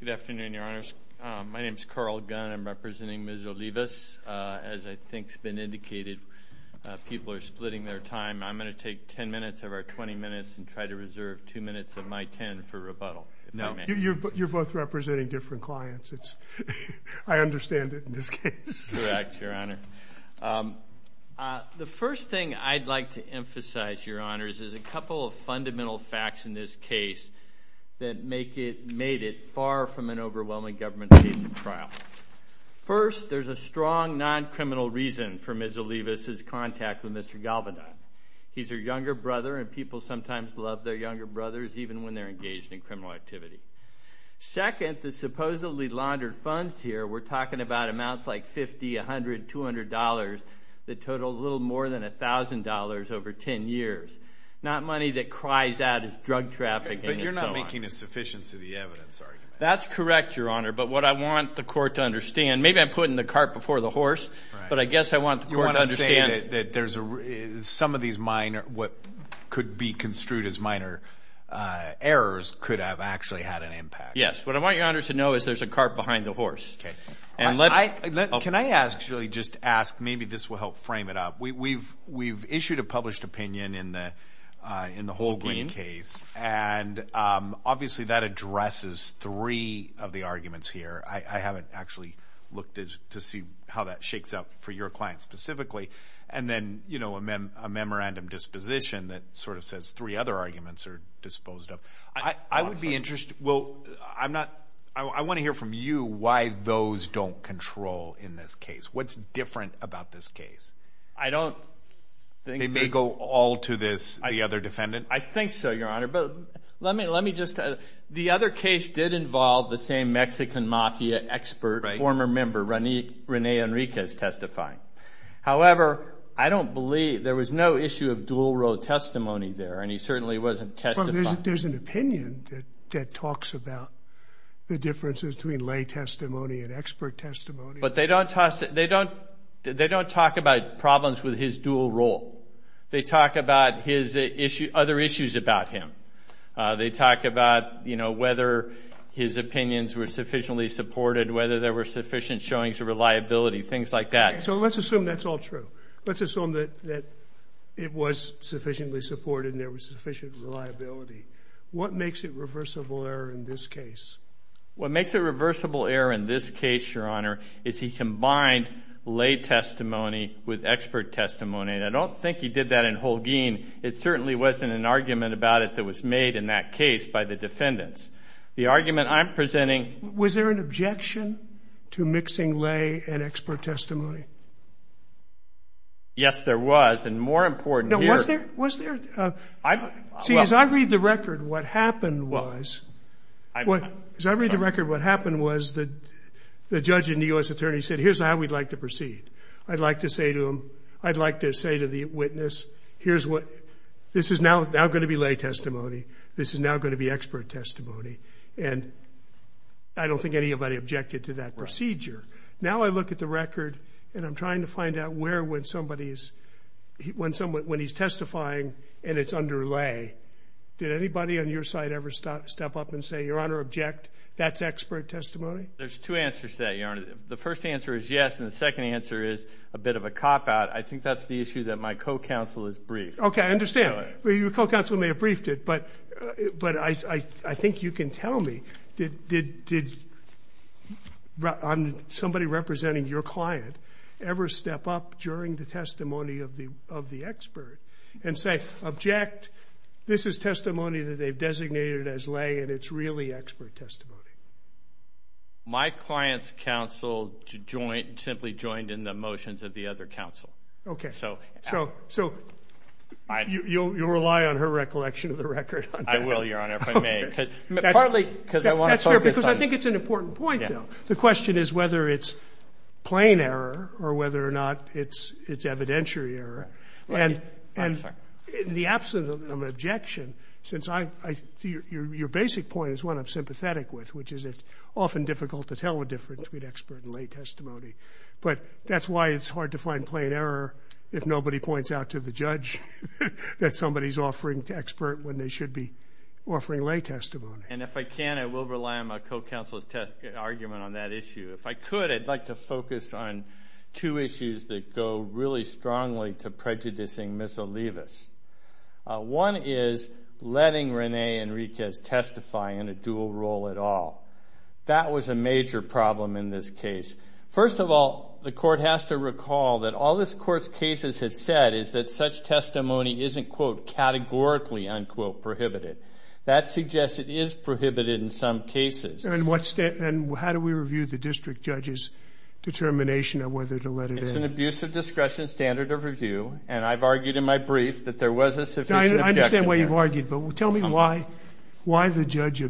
Good afternoon, your honors. My name is Carl Gunn. I'm representing Ms. Olivas. As I think has been indicated, people are splitting their time. I'm going to take ten minutes of our twenty minutes and try to reserve two minutes of my ten for rebuttal, if I may. You're both representing different clients. I understand it in this case. Correct, your honor. The first thing I'd like to emphasize, your honors, is a couple of facts in this case that make it, made it far from an overwhelming government case of trial. First, there's a strong non-criminal reason for Ms. Olivas' contact with Mr. Galvedon. He's her younger brother, and people sometimes love their younger brothers, even when they're engaged in criminal activity. Second, the supposedly laundered funds here, we're talking about amounts like fifty, a hundred, two hundred dollars, that total a little more than a thousand dollars over ten years. Not money that cries out as drug trafficking, and so on. But you're not making a sufficiency of the evidence argument. That's correct, your honor, but what I want the court to understand, maybe I'm putting the cart before the horse, but I guess I want the court to understand. You want to say that there's a, some of these minor, what could be construed as minor errors could have actually had an impact. Yes. What I want your honors to know is there's a cart behind the horse. Okay. Can I actually just ask, maybe this will help frame it up. We've issued a published opinion in the Holguin case, and obviously that addresses three of the arguments here. I haven't actually looked to see how that shakes up for your client specifically. And then, you know, a memorandum disposition that sort of says three other arguments are disposed of. I would be interested, well, I'm not, I want to hear from you why those don't control in this case. What's different about this case? I don't think. They may go all to this, the other defendant? I think so, your honor. But let me, let me just, the other case did involve the same Mexican mafia expert, former member, Rene Enriquez testifying. However, I don't believe, there was no issue of dual role testimony there, and he certainly wasn't testifying. Well, there's an opinion that talks about the differences between lay testimony and expert testimony. But they don't talk, they don't, they don't talk about problems with his dual role. They talk about his issue, other issues about him. They talk about, you know, whether his opinions were sufficiently supported, whether there were sufficient showings of reliability, things like that. So let's assume that's all true. Let's assume that, that it was sufficiently supported and there was sufficient reliability. What makes it reversible error in this case? What makes it reversible error in this case, your honor, is he combined lay testimony with expert testimony. And I don't think he did that in Holguin. It certainly wasn't an argument about it that was made in that case by the defendants. The argument I'm presenting. Was there an objection to mixing lay and expert testimony? Yes, there was. And more important here. Was there? See, as I read the record, what happened was, as I read the record, what happened was that the judge and the U.S. attorney said, here's how we'd like to proceed. I'd like to say to him, I'd like to say to the witness, here's what, this is now, now going to be lay testimony. This is now going to be expert testimony. And I don't think anybody objected to that procedure. Now I look at the record and I'm trying to find out where, when somebody is, when someone, when he's testifying and it's under lay, did anybody on your side ever stop, step up and say, your honor, object, that's expert testimony? There's two answers to that, your honor. The first answer is yes. And the second answer is a bit of a cop-out. I think that's the issue that my co-counsel has briefed. Okay, I understand. Your co-counsel may have briefed it, but, but I, I think you can tell me, did, did, did somebody representing your client ever step up during the testimony of the, of the expert and say, object, this is testimony that they've designated as lay and it's really expert testimony? My client's counsel joined, simply joined in the motions of the other counsel. Okay. So, so, so, you'll, you'll rely on her recollection of the record. I will, your honor, if I may. Partly, because I want to focus on. That's fair, because I think it's an important point, though. The question is whether it's evidentiary error. And, and, in the absence of an objection, since I, I, your, your, your basic point is one I'm sympathetic with, which is it's often difficult to tell the difference between expert and lay testimony. But that's why it's hard to find plain error if nobody points out to the judge that somebody's offering to expert when they should be offering lay testimony. And if I can, I will rely on my co-counsel's test, argument on that issue. If I could, I'd like to focus on two issues that go really strongly to prejudicing Ms. Olivas. One is letting Rene Enriquez testify in a dual role at all. That was a major problem in this case. First of all, the court has to recall that all this court's cases have said is that such testimony isn't, quote, categorically, unquote, prohibited. That suggests it is prohibited in some cases. And what's that, and how do we review the district judge's determination on whether to let it in? It's an abuse of discretion standard of review, and I've argued in my brief that there was a sufficient objection there. I understand why you've argued, but tell me why, why the judge,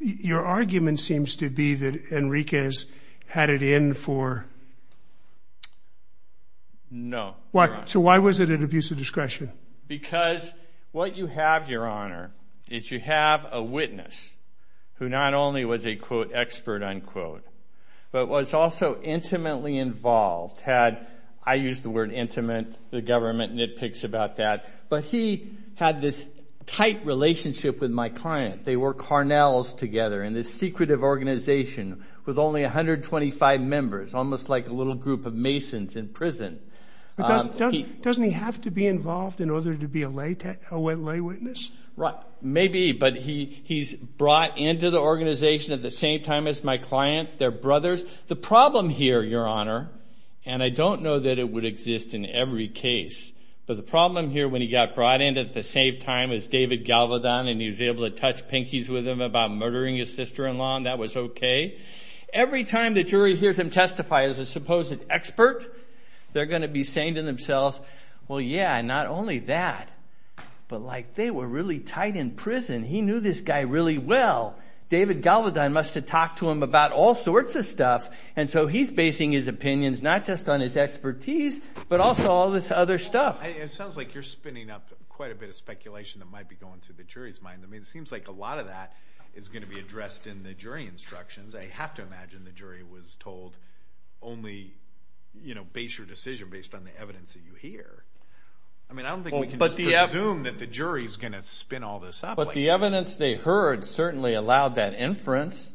your argument seems to be that Enriquez had it in for... So why was it an abuse of discretion? Because what you have, your honor, is you have a witness who not only was a, quote, expert, unquote, but was also intimately involved, had, I use the word intimate, the government nitpicks about that, but he had this tight relationship with my client. They were Carnells together in this secretive organization with only 125 members, almost like a little group of masons in prison. But doesn't he have to be involved in order to be a lay witness? Right, maybe, but he's brought into the organization at the same time as my client, their brothers. The problem here, your honor, and I don't know that it would exist in every case, but the problem here when he got brought in at the same time as David Galvedon and he was able to touch pinkies with him about murdering his sister-in-law, and that was okay. Every time the jury hears him testify as a supposed expert, they're going to be saying to themselves, well, yeah, not only that, but like, they were really tight in prison. He knew this guy really well. David Galvedon must have talked to him about all sorts of stuff, and so he's basing his opinions not just on his expertise, but also all this other stuff. It sounds like you're spinning up quite a bit of speculation that might be going through the jury's mind. I mean, it seems like a lot of that is going to be addressed in the jury instructions. I have to imagine the jury was told only, you know, base your decision based on the evidence that you hear. I mean, I don't think we can just presume that the jury's going to spin all this up like this. But the evidence they heard certainly allowed that inference.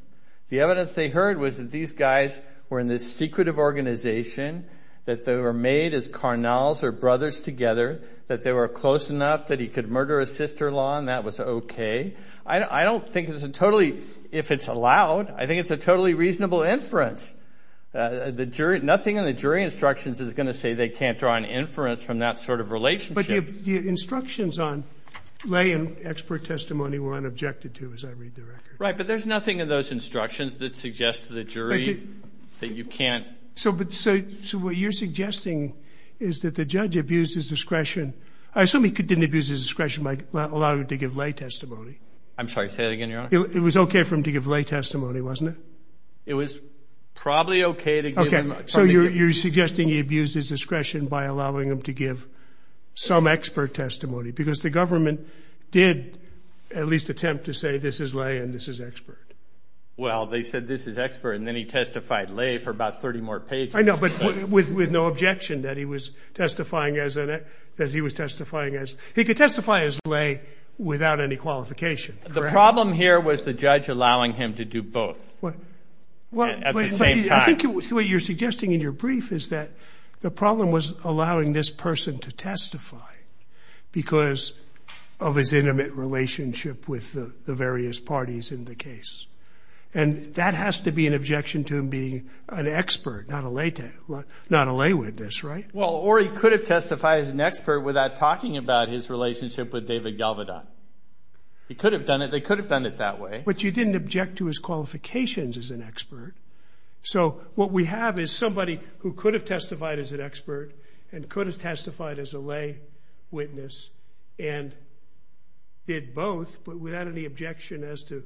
The evidence they heard was that these guys were in this secretive organization, that they were made as carnals or brothers together, that they were close enough that he could murder his sister-in-law and that was okay. I don't think it's a totally, if it's allowed, I think it's a totally reasonable inference. Nothing in the jury instructions is going to say they can't draw an inference from that sort of relationship. But the instructions on lay and expert testimony were unobjected to, as I read the record. Right, but there's nothing in those instructions that suggests to the jury that you can't... So what you're suggesting is that the judge abused his discretion. I assume he didn't abuse his discretion by allowing him to give lay testimony. I'm sorry, say that again, Your Honor. It was okay for him to give lay testimony, wasn't it? It was probably okay to give him... Okay, so you're suggesting he abused his discretion by allowing him to give some expert testimony because the government did at least attempt to say this is lay and this is expert. Well they said this is expert and then he testified lay for about 30 more pages. I know, but with no objection that he was testifying as... He could testify as lay without any qualification, correct? The problem here was the judge allowing him to do both at the same time. I think what you're suggesting in your brief is that the problem was allowing this person to testify because of his intimate relationship with the various parties in the case. And that has to be an objection to him being an expert, not a lay witness, right? Well, or he could have testified as an expert without talking about his relationship with David Galvedon. He could have done it. They could have done it that way. But you didn't object to his qualifications as an expert. So what we have is somebody who could have testified as an expert and could have testified as a lay witness and did both but without any objection as to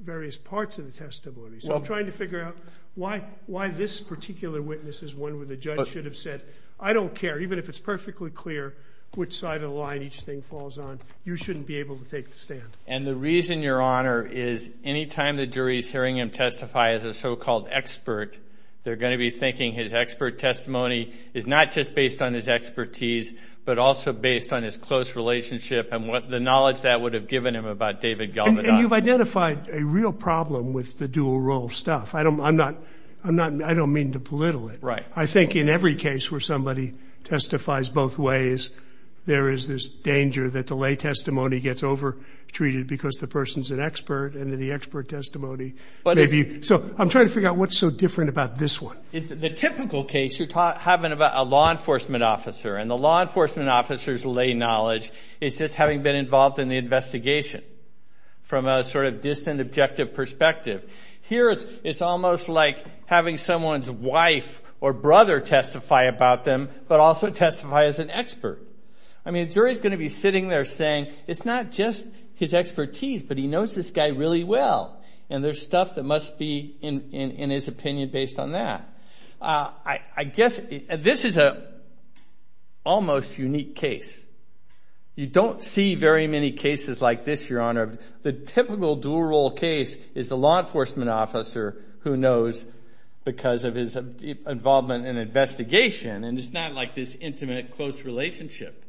various parts of the testimony. So I'm trying to figure out why this particular witness is one where the judge should have said, I don't care. Even if it's perfectly clear which side of the line each thing falls on, you shouldn't be able to take the stand. And the reason, Your Honor, is any time the jury is hearing him testify as a so-called expert, they're going to be thinking his expert testimony is not just based on his expertise but also based on his close relationship and the knowledge that would have given him about David Galvedon. And you've identified a real problem with the dual role stuff. I don't mean to belittle it. I think in every case where somebody testifies both ways, there is this danger that the lay testimony gets over-treated because the person's an expert and the expert testimony may be – so I'm trying to figure out what's so different about this one. The typical case you're having about a law enforcement officer and the law enforcement officer's lay knowledge is just having been involved in the investigation from a sort of distant objective perspective. Here it's almost like having someone's wife or brother testify about them but also testify as an expert. I mean, the jury's going to be sitting there saying it's not just his expertise but he knows this guy really well and there's stuff that must be in his opinion based on that. I guess this is an almost unique case. You don't see very many cases like this, Your Honor. The typical dual role case is the law enforcement officer who knows because of his involvement in investigation and it's not like this intimate, close relationship.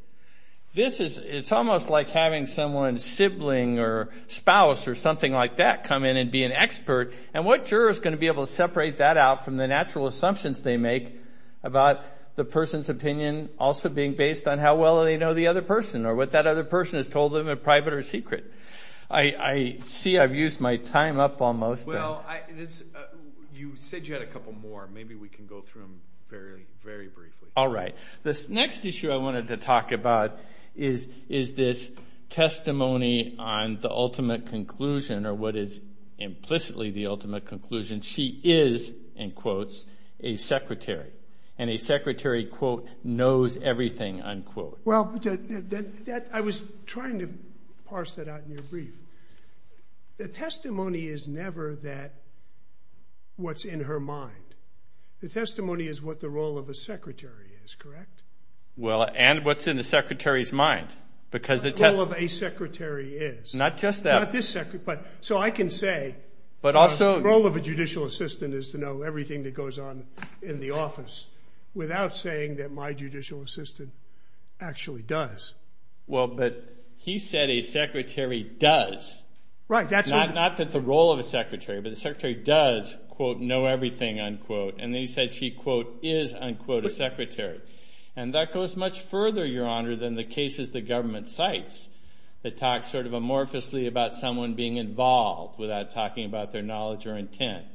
This is – it's almost like having someone's sibling or spouse or something like that come in and be an expert and what juror's going to be able to separate that out from the natural assumptions they make about the person's opinion also being based on how well they know the other person or what that other person has told them in private or secret. I see I've used my time up almost. Well, you said you had a couple more. Maybe we can go through them very, very briefly. All right. This next issue I wanted to talk about is this testimony on the ultimate conclusion or what is implicitly the ultimate conclusion. She is, in quotes, a secretary and a secretary, quote, knows everything, unquote. Well, I was trying to parse that out in your brief. The testimony is never that what's in her mind. The testimony is what the role of a secretary is, correct? Well, and what's in the secretary's mind because the – What the role of a secretary is. Not just that. Not this secretary, but so I can say the role of a judicial assistant is to know everything that goes on in the office without saying that my judicial assistant actually does. Well, but he said a secretary does, not that the role of a secretary, but the secretary does, quote, know everything, unquote. And then he said she, quote, is, unquote, a secretary. And that goes much further, Your Honor, than the cases the government cites that talk sort of amorphously about someone being involved without talking about their knowledge or intent.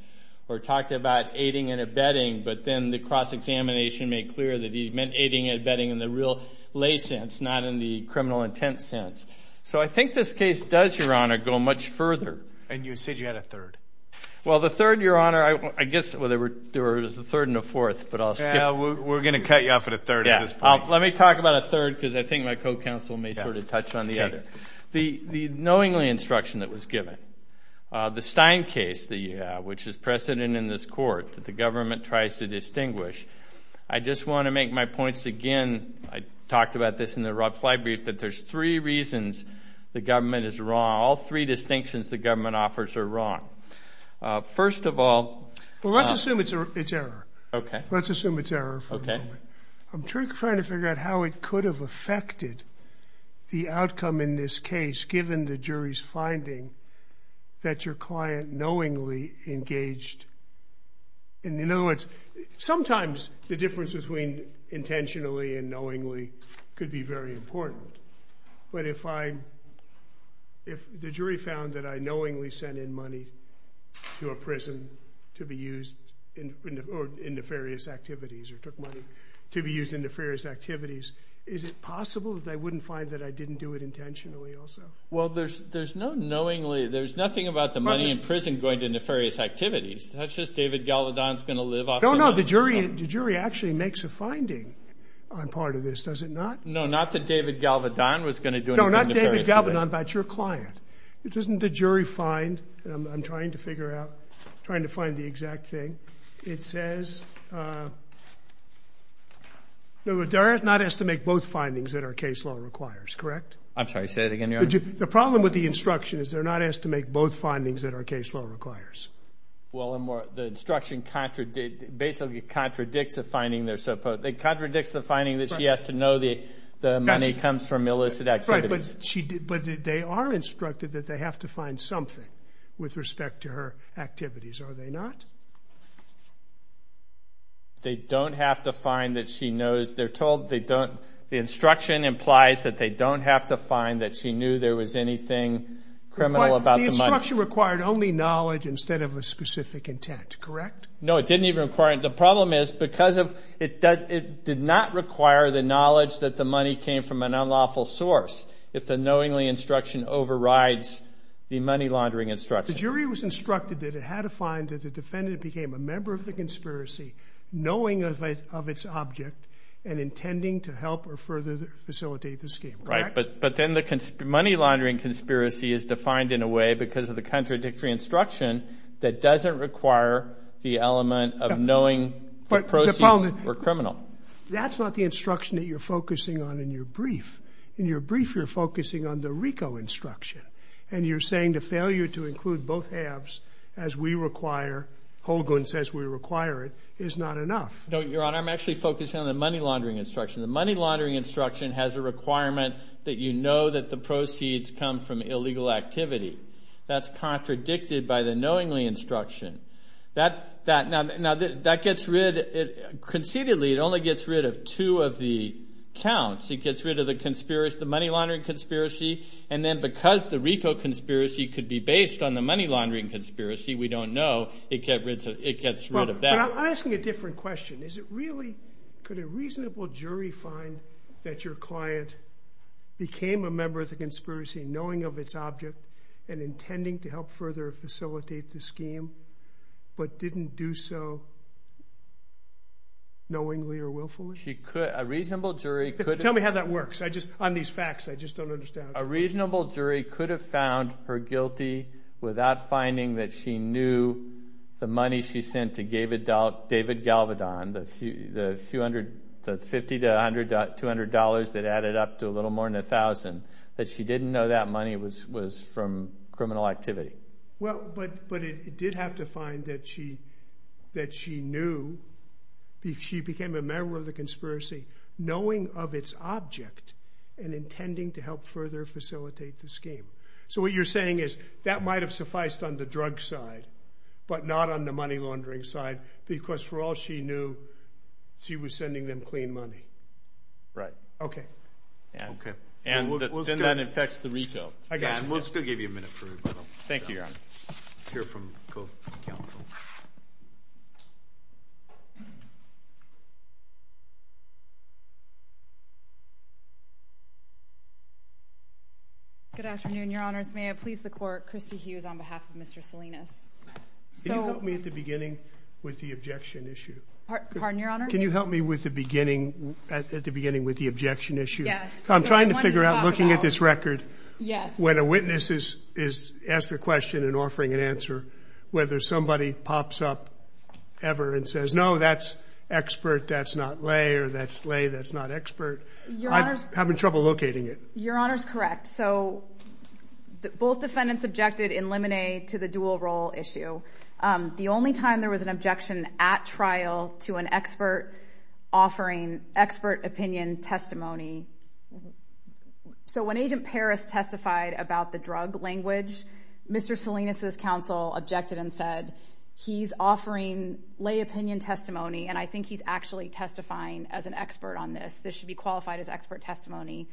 Or talked about aiding and abetting, but then the cross-examination made clear that he meant aiding and abetting in the real lay sense, not in the criminal intent sense. So I think this case does, Your Honor, go much further. And you said you had a third. Well, the third, Your Honor, I guess – well, there was a third and a fourth, but I'll skip – Yeah, we're going to cut you off at a third at this point. Let me talk about a third because I think my co-counsel may sort of touch on the other. The knowingly instruction that was given, the Stein case, which is precedent in this court that the government tries to distinguish. I just want to make my points again. I talked about this in the reply brief, that there's three reasons the government is wrong. All three distinctions the government offers are wrong. First of all – Well, let's assume it's error. Okay. Let's assume it's error for a moment. Okay. I'm trying to figure out how it could have affected the outcome in this case, given the jury's finding that your client knowingly engaged – in other words, sometimes the difference between intentionally and knowingly could be very important. But if I – if the jury found that I knowingly sent in money to a prison to be used in nefarious activities or took money to be used in nefarious activities, is it possible that they wouldn't find that I didn't do it intentionally also? Well, there's no knowingly – there's nothing about the money in prison going to nefarious activities. That's just David Galvedon's going to live off – No, no. The jury actually makes a finding on part of this, does it not? No, not that David Galvedon was going to do anything nefarious. No, not David Galvedon, but your client. Doesn't the jury find – I'm trying to find the exact thing. It says – no, but they're not asked to make both findings that our case law requires, correct? I'm sorry. Say that again, Your Honor. The problem with the instruction is they're not asked to make both findings that our case law requires. Well, the instruction basically contradicts the finding they're supposed – it contradicts the finding that she has to know the money comes from illicit activities. Right, but she – but they are instructed that they have to find something with respect to her activities, are they not? They don't have to find that she knows – they're told they don't – the instruction implies that they don't have to find that she knew there was anything criminal about the money. The instruction required only knowledge instead of a specific intent, correct? No, it didn't even require – the problem is because of – it did not require the knowledge that the money came from an unlawful source if the knowingly instruction overrides the money laundering instruction. The jury was instructed that it had to find that the defendant became a member of the conspiracy knowing of its object and intending to help or further facilitate the scheme, correct? But then the money laundering conspiracy is defined in a way because of the contradictory instruction that doesn't require the element of knowing the proceeds were criminal. That's not the instruction that you're focusing on in your brief. In your brief, you're focusing on the RICO instruction, and you're saying the failure to include both halves as we require – Holguin says we require it – is not enough. No, Your Honor, I'm actually focusing on the money laundering instruction. The money laundering instruction has a requirement that you know that the proceeds come from illegal activity. That's contradicted by the knowingly instruction. Now, that gets rid – conceitedly, it only gets rid of two of the counts. It gets rid of the money laundering conspiracy, and then because the RICO conspiracy could be based on the money laundering conspiracy, we don't know, it gets rid of that. But I'm asking a different question. Is it really – could a reasonable jury find that your client became a member of the conspiracy knowing of its object and intending to help further facilitate the scheme, but didn't do so knowingly or willfully? She could – a reasonable jury could – Tell me how that works. I just – on these facts, I just don't understand. A reasonable jury could have found her guilty without finding that she knew the money she sent to David Galvedon, the $200 that added up to a little more than $1,000, that she didn't know that money was from criminal activity. Well, but it did have to find that she knew – she became a member of the conspiracy knowing of its object and intending to help further facilitate the scheme. So what you're saying is that might have sufficed on the drug side, but not on the money laundering side, because for all she knew, she was sending them clean money. Right. Okay. Okay. And then that infects the RICO. I got you. Thank you, Your Honor. Hear from both counsel. Good afternoon, Your Honors. May I please the court? Christy Hughes on behalf of Mr. Salinas. So – Can you help me at the beginning with the objection issue? Pardon, Your Honor? Can you help me with the beginning – at the beginning with the objection issue? Yes. I'm trying to figure out, looking at this record – Yes. When a witness is asked a question and offering an answer, whether somebody pops up ever and says, no, that's expert, that's not lay, or that's lay, that's not expert. Your Honor's – I'm having trouble locating it. Your Honor's correct. So both defendants objected in limine to the dual role issue. The only time there was an objection at trial to an expert offering – expert opinion testimony – so when Agent Paris testified about the drug language, Mr. Salinas' counsel objected and said, he's offering lay opinion testimony, and I think he's actually testifying as an expert on this. This should be qualified as expert testimony.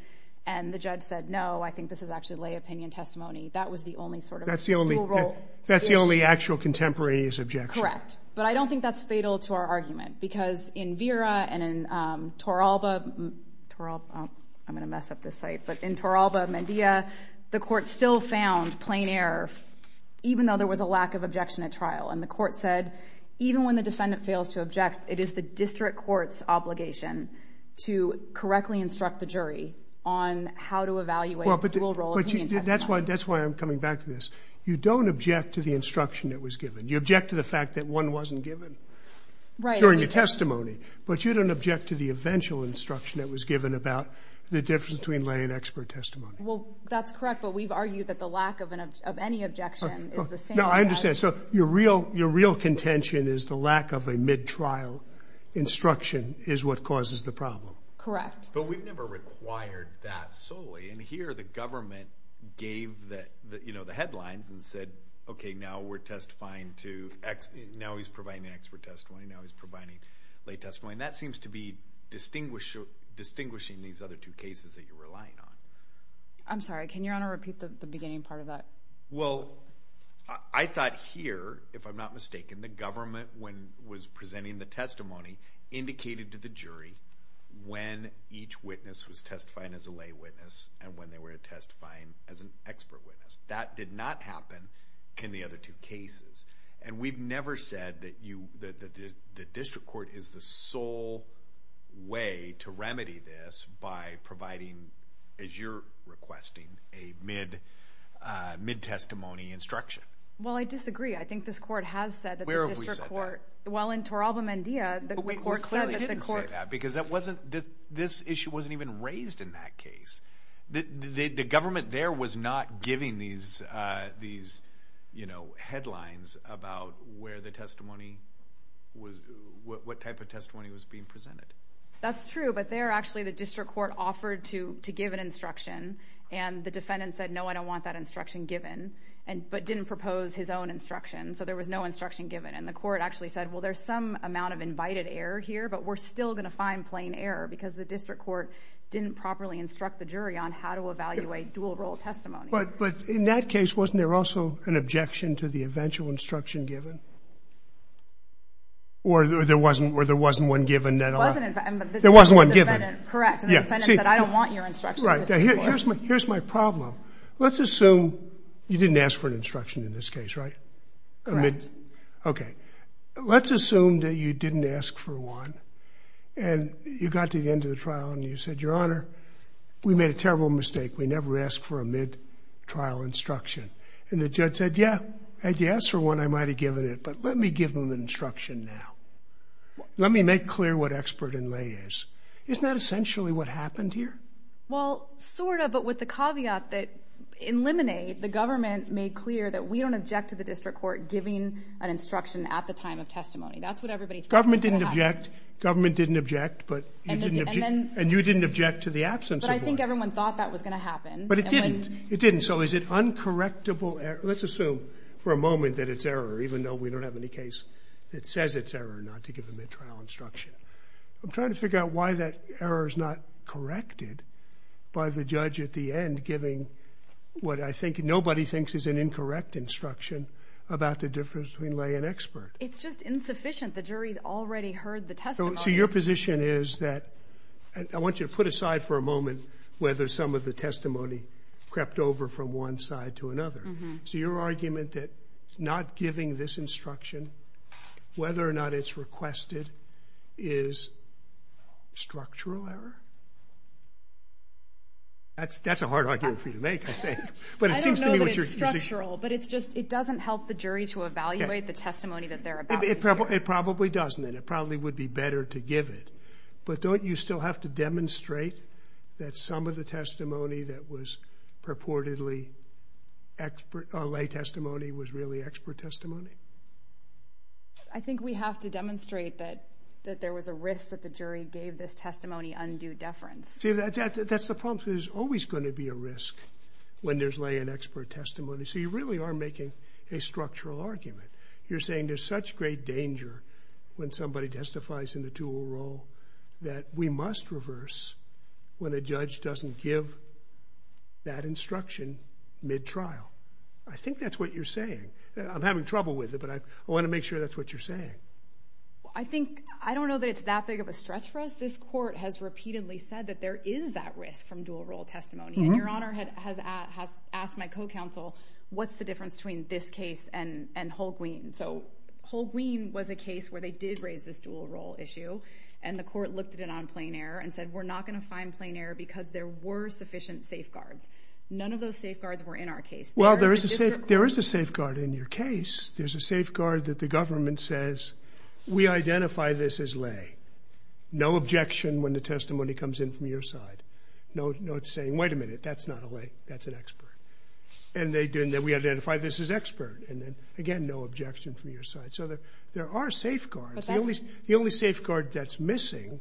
And the judge said, no, I think this is actually lay opinion testimony. That was the only sort of dual role issue. That's the only actual contemporaneous objection. Correct. But I don't think that's fatal to our argument. Because in Vera and in Torralba – I'm going to mess up this site – but in Torralba, Medea, the court still found plain error, even though there was a lack of objection at trial. And the court said, even when the defendant fails to object, it is the district court's obligation to correctly instruct the jury on how to evaluate dual role opinion testimony. That's why I'm coming back to this. You don't object to the instruction that was given. You object to the fact that one wasn't given. Right. During the testimony. But you don't object to the eventual instruction that was given about the difference between lay and expert testimony. Well, that's correct. But we've argued that the lack of any objection is the same. No, I understand. So your real contention is the lack of a mid-trial instruction is what causes the problem. Correct. But we've never required that solely. And here the government gave the headlines and said, okay, now we're testifying to – now he's providing expert testimony, now he's providing lay testimony. And that seems to be distinguishing these other two cases that you're relying on. I'm sorry. Can Your Honor repeat the beginning part of that? Well, I thought here, if I'm not mistaken, the government, when it was presenting the testimony, indicated to the jury when each witness was testifying as a lay witness and when they were testifying as an expert witness. That did not happen in the other two cases. And we've never said that you – that the district court is the sole way to remedy this by providing, as you're requesting, a mid-testimony instruction. Well, I disagree. I think this court has said that the district court – Where have we said that? Well, in Toralba, Mendea, the court said that the court – But we clearly didn't say that because that wasn't – this issue wasn't even raised in that case. The government there was not giving these headlines about where the testimony was – what type of testimony was being presented. That's true. But there, actually, the district court offered to give an instruction, and the defendant said, no, I don't want that instruction given, but didn't propose his own instruction. So there was no instruction given. And the court actually said, well, there's some amount of invited error here, but we're still going to find plain error because the district court didn't properly instruct the jury on how to evaluate dual-role testimony. But in that case, wasn't there also an objection to the eventual instruction given? Or there wasn't – or there wasn't one given that – There wasn't – There wasn't one given. Correct. And the defendant said, I don't want your instruction. Right. Here's my problem. Let's assume you didn't ask for an instruction in this case, right? Correct. Okay. Let's assume that you didn't ask for one. And you got to the end of the trial, and you said, Your Honor, we made a terrible mistake. We never asked for a mid-trial instruction. And the judge said, yeah, had you asked for one, I might have given it, but let me give them an instruction now. Let me make clear what expert in lay is. Isn't that essentially what happened here? Well, sort of, but with the caveat that in Lemonade, the government made clear that we at the time of testimony. That's what everybody thought was going to happen. Government didn't object. Government didn't object. But you didn't object. And you didn't object to the absence of one. But I think everyone thought that was going to happen. But it didn't. It didn't. So is it uncorrectable – let's assume for a moment that it's error, even though we don't have any case that says it's error not to give the mid-trial instruction. I'm trying to figure out why that error is not corrected by the judge at the end giving what I think nobody thinks is an incorrect instruction about the difference between an expert. It's just insufficient. The jury's already heard the testimony. So your position is that – I want you to put aside for a moment whether some of the testimony crept over from one side to another. So your argument that not giving this instruction, whether or not it's requested, is structural error? That's a hard argument for you to make, I think. I don't know that it's structural. But it doesn't help the jury to evaluate the testimony that they're about to give. It probably doesn't. It probably would be better to give it. But don't you still have to demonstrate that some of the testimony that was purportedly lay testimony was really expert testimony? I think we have to demonstrate that there was a risk that the jury gave this testimony undue deference. That's the problem. There's always going to be a risk when there's lay and expert testimony. So you really are making a structural argument. You're saying there's such great danger when somebody testifies in the dual role that we must reverse when a judge doesn't give that instruction mid-trial. I think that's what you're saying. I'm having trouble with it, but I want to make sure that's what you're saying. I think – I don't know that it's that big of a stretch for us. This Court has repeatedly said that there is that risk from dual role testimony. And Your Honor has asked my co-counsel, what's the difference between this case and Holguin? So Holguin was a case where they did raise this dual role issue, and the Court looked at it on plain error and said, we're not going to find plain error because there were sufficient safeguards. None of those safeguards were in our case. Well, there is a safeguard in your case. There's a safeguard that the government says, we identify this as lay. No objection when the testimony comes in from your side. No saying, wait a minute, that's not a lay. That's an expert. And we identify this as expert. And again, no objection from your side. So there are safeguards. The only safeguard that's missing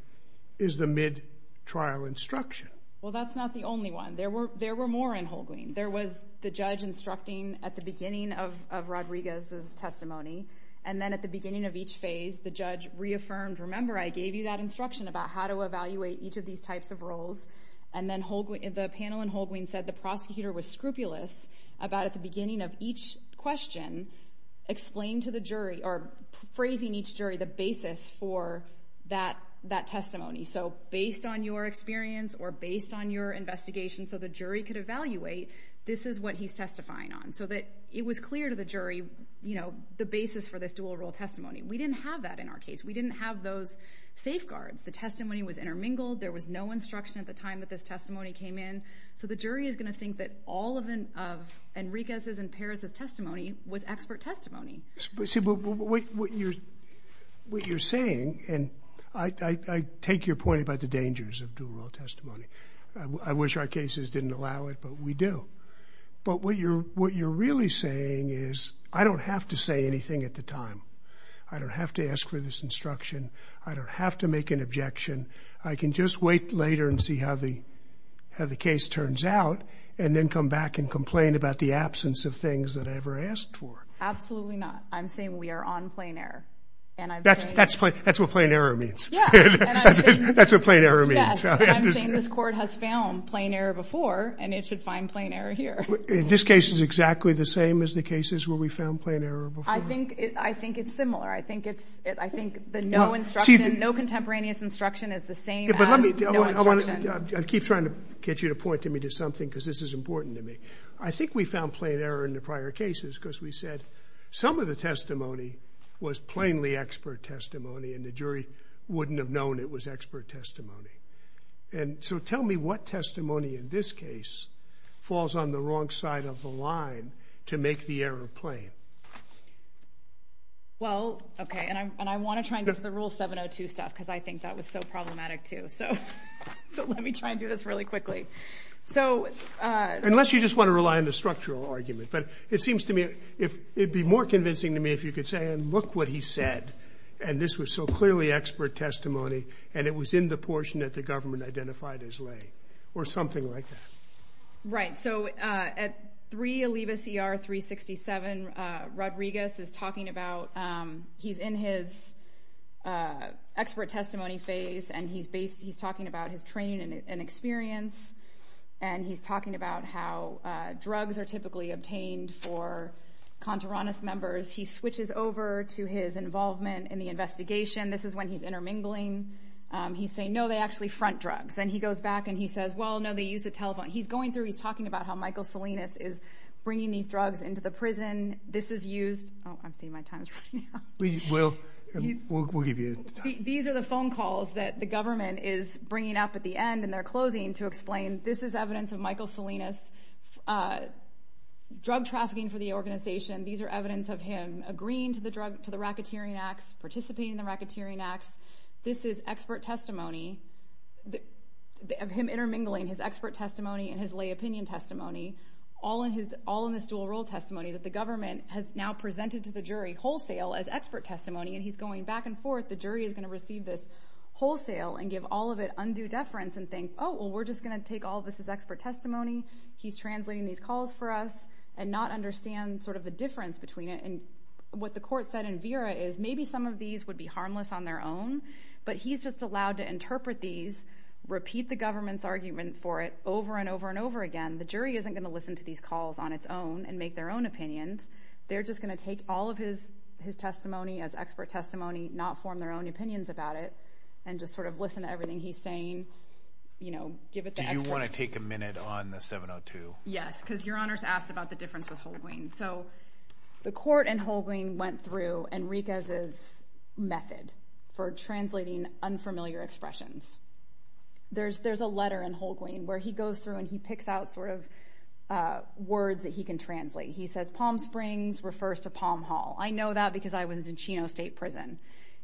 is the mid-trial instruction. Well, that's not the only one. There were more in Holguin. There was the judge instructing at the beginning of Rodriguez's testimony, and then at the beginning of each phase, the judge reaffirmed, remember I gave you that instruction about how to evaluate each of these types of roles, and then the panel in Holguin said the prosecutor was scrupulous about, at the beginning of each question, explaining to the jury, or phrasing each jury the basis for that testimony. So based on your experience or based on your investigation so the jury could evaluate, this is what he's testifying on. So that it was clear to the jury the basis for this dual role testimony. We didn't have that in our case. We didn't have those safeguards. The testimony was intermingled. There was no instruction at the time that this testimony came in. So the jury is going to think that all of Enriquez's and Perez's testimony was expert testimony. But see, what you're saying, and I take your point about the dangers of dual role testimony. I wish our cases didn't allow it, but we do. But what you're really saying is, I don't have to say anything at the time. I don't have to ask for this instruction. I don't have to make an objection. I can just wait later and see how the case turns out, and then come back and complain about the absence of things that I ever asked for. Absolutely not. I'm saying we are on plain error. That's what plain error means. That's what plain error means. I'm saying this court has found plain error before, and it should find plain error here. This case is exactly the same as the cases where we found plain error before? I think it's similar. I think the no instruction, no contemporaneous instruction is the same as no instruction. I keep trying to get you to point to me to something because this is important to me. I think we found plain error in the prior cases because we said some of the testimony was plainly expert testimony, and the jury wouldn't have known it was expert testimony. And so tell me what testimony in this case falls on the wrong side of the line to make the error plain? Well, okay, and I want to try and get to the rule 702 stuff because I think that was so problematic, too. So let me try and do this really quickly. Unless you just want to rely on the structural argument, but it seems to me it'd be more convincing to me if you could say, and look what he said, and this was so clearly expert testimony, and it was in the portion that the government identified as lay, or something like that. Right. So at 3 Alibis ER 367, Rodriguez is talking about, he's in his expert testimony phase, and he's talking about his training and experience. And he's talking about how drugs are typically obtained for contrarianist members. He switches over to his involvement in the investigation. This is when he's intermingling. He's saying, no, they actually front drugs. And he goes back and he says, well, no, they use the telephone. He's going through, he's talking about how Michael Salinas is bringing these drugs into the prison. This is used. Oh, I'm seeing my time is running out. We will, we'll give you time. These are the phone calls that the government is bringing up at the end, and they're closing to explain, this is evidence of Michael Salinas drug trafficking for the organization. These are evidence of him agreeing to the racketeering acts, participating in the racketeering acts. This is expert testimony of him intermingling his expert testimony and his lay opinion testimony, all in this dual role testimony that the government has now presented to the jury wholesale as expert testimony. And he's going back and forth. The jury is going to receive this wholesale and give all of it undue deference and think, oh, well, we're just going to take all of this as expert testimony. He's translating these calls for us and not understand the difference between it. What the court said in Vera is maybe some of these would be harmless on their own, but he's just allowed to interpret these, repeat the government's argument for it over and over and over again. The jury isn't going to listen to these calls on its own and make their own opinions. They're just going to take all of his testimony as expert testimony, not form their own opinions about it, and just sort of listen to everything he's saying, give it the expert. Do you want to take a minute on the 702? Yes, because Your Honor's asked about the difference with Holguin. So the court and Holguin went through Enriquez's method for translating unfamiliar expressions. There's a letter in Holguin where he goes through and he picks out sort of words that he can translate. He says, Palm Springs refers to Palm Hall. I know that because I was in Chino State Prison.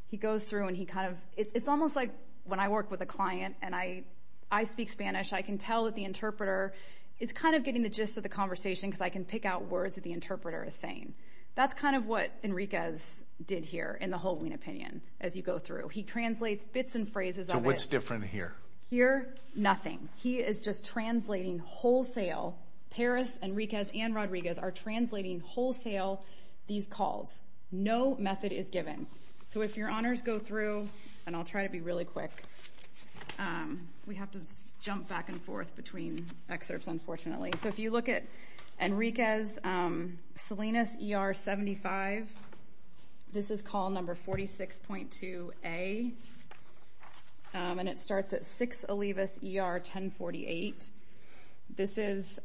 He goes through and he kind of, it's almost like when I work with a client and I speak Spanish, I can tell that the interpreter is kind of getting the gist of the conversation because I can pick out words that the interpreter is saying. That's kind of what Enriquez did here in the Holguin opinion as you go through. He translates bits and phrases of it. So what's different here? Here, nothing. He is just translating wholesale. Paris, Enriquez, and Rodriguez are translating wholesale these calls. No method is given. So if Your Honors go through, and I'll try to be really quick. We have to jump back and forth between excerpts, unfortunately. So if you look at Enriquez, Salinas ER 75, this is call number 46.2A, and it starts at 6 Olivas ER 1048. This is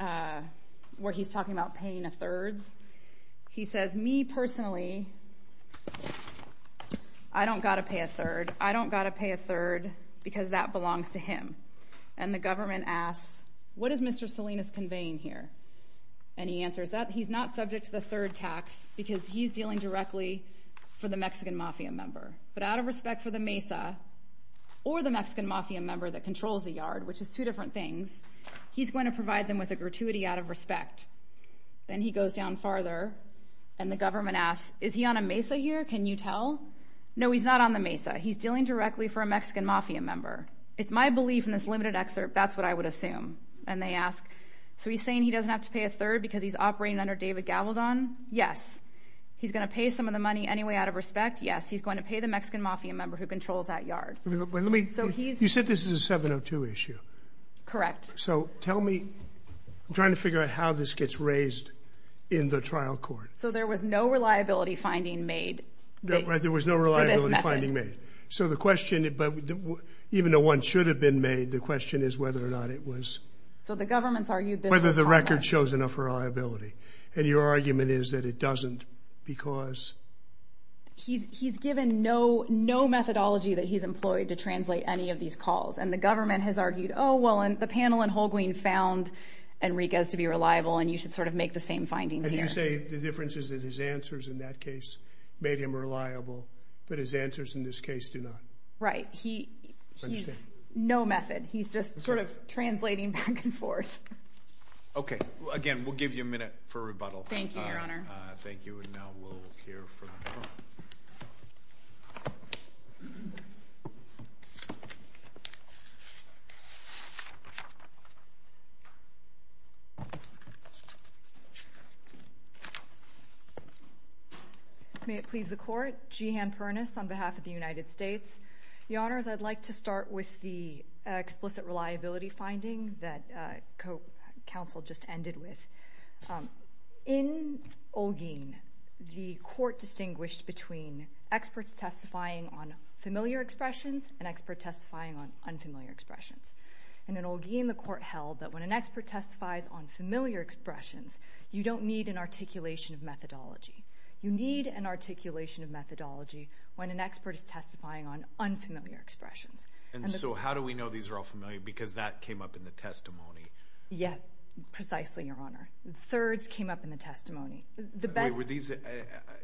where he's talking about paying a third. He says, me personally, I don't got to pay a third. I don't got to pay a third because that belongs to him. And the government asks, what is Mr. Salinas conveying here? And he answers that he's not subject to the third tax because he's dealing directly for the Mexican mafia member. But out of respect for the MESA or the Mexican mafia member that controls the yard, which is two different things, he's going to provide them with a gratuity out of respect. Then he goes down farther, and the government asks, is he on a MESA here? Can you tell? No, he's not on the MESA. He's dealing directly for a Mexican mafia member. It's my belief in this limited excerpt. That's what I would assume. And they ask, so he's saying he doesn't have to pay a third because he's operating under David Gavaldon? Yes. He's going to pay some of the money anyway out of respect. Yes, he's going to pay the Mexican mafia member who controls that yard. You said this is a 702 issue. Correct. So tell me, I'm trying to figure out how this gets raised in the trial court. So there was no reliability finding made. There was no reliability finding made. So the question, even though one should have been made, the question is whether or not it was. So the government's argued that- Whether the record shows enough reliability. And your argument is that it doesn't because- He's given no methodology that he's employed to translate any of these calls. And the government has argued, oh, well, the panel in Holguin found Enriquez to be reliable, and you should sort of make the same finding here. And you say the difference is that his answers in that case made him reliable, but his answers in this case do not. Right. He's no method. He's just sort of translating back and forth. Okay. Again, we'll give you a minute for rebuttal. Thank you, Your Honor. Thank you. And now we'll hear from the panel. May it please the court. Jehan Pernas on behalf of the United States. Your Honors, I'd like to start with the explicit reliability finding that counsel just ended with. In Holguin, the court distinguished between experts testifying on familiar expressions and expert testifying on unfamiliar expressions. And in Holguin, the court held that when an expert testifies on familiar expressions, you don't need an articulation of methodology. You need an articulation of methodology when an expert is testifying on unfamiliar expressions. And so how do we know these are all familiar? Because that came up in the testimony. Yeah. Precisely, Your Honor. Thirds came up in the testimony. Wait, were these...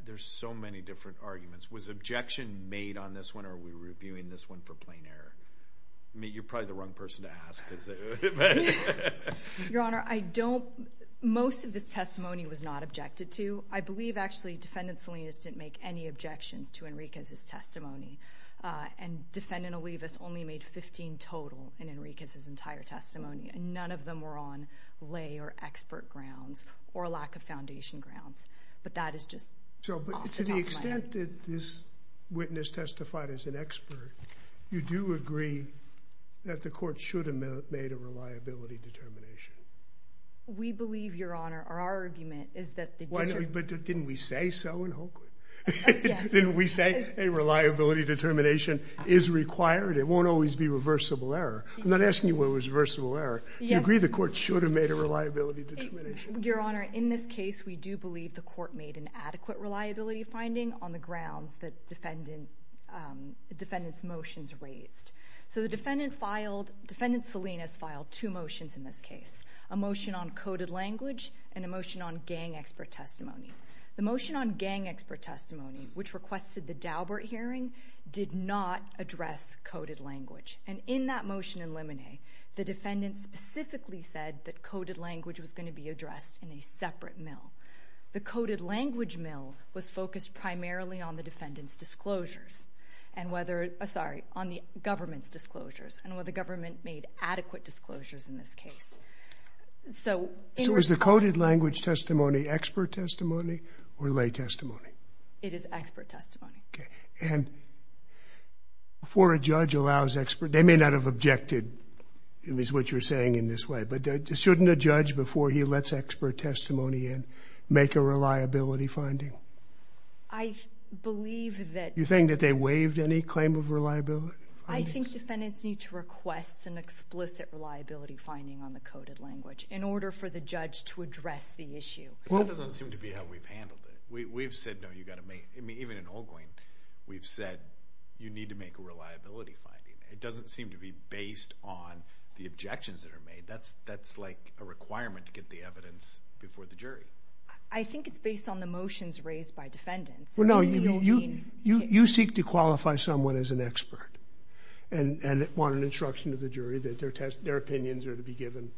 There's so many different arguments. Was objection made on this one, or are we reviewing this one for plain error? I mean, you're probably the wrong person to ask. Your Honor, I don't... Most of this testimony was not objected to. I believe, actually, Defendant Salinas didn't make any objections to Enriquez's testimony. And Defendant Olivas only made 15 total in Enriquez's entire testimony, and none of them were on lay or expert grounds or lack of foundation grounds. But that is just off the top of my head. So to the extent that this witness testified as an expert, you do agree that the court should have made a reliability determination? We believe, Your Honor, our argument is that the... But didn't we say so in Holkwood? Didn't we say a reliability determination is required? It won't always be reversible error. I'm not asking you what was reversible error. You agree the court should have made a reliability determination? Your Honor, in this case, we do believe the court made an adequate reliability finding on the grounds that the defendant's motions raised. So the defendant filed... Defendant Salinas filed two motions in this case, a motion on coded language and a motion on gang expert testimony. The motion on gang expert testimony, which requested the Daubert hearing, did not address coded language. And in that motion in limine, the defendant specifically said that coded language was going to be addressed in a separate mill. The coded language mill was focused primarily on the defendant's disclosures and whether... Sorry, on the government's disclosures and whether the government made adequate disclosures in this case. So... So is the coded language testimony expert testimony or lay testimony? It is expert testimony. Okay, and before a judge allows expert... They may not have objected, at least what you're saying in this way, but shouldn't a judge, before he lets expert testimony in, make a reliability finding? I believe that... You think that they waived any claim of reliability? I think defendants need to request an explicit reliability finding on the coded language in order for the judge to address the issue. That doesn't seem to be how we've handled it. We've said, no, you've got to make... I mean, even in Holguin, we've said, you need to make a reliability finding. It doesn't seem to be based on the objections that are made. That's like a requirement to get the evidence before the jury. I think it's based on the motions raised by defendants. Well, no, you seek to qualify someone as an expert and want an instruction to the jury that their opinions are to be given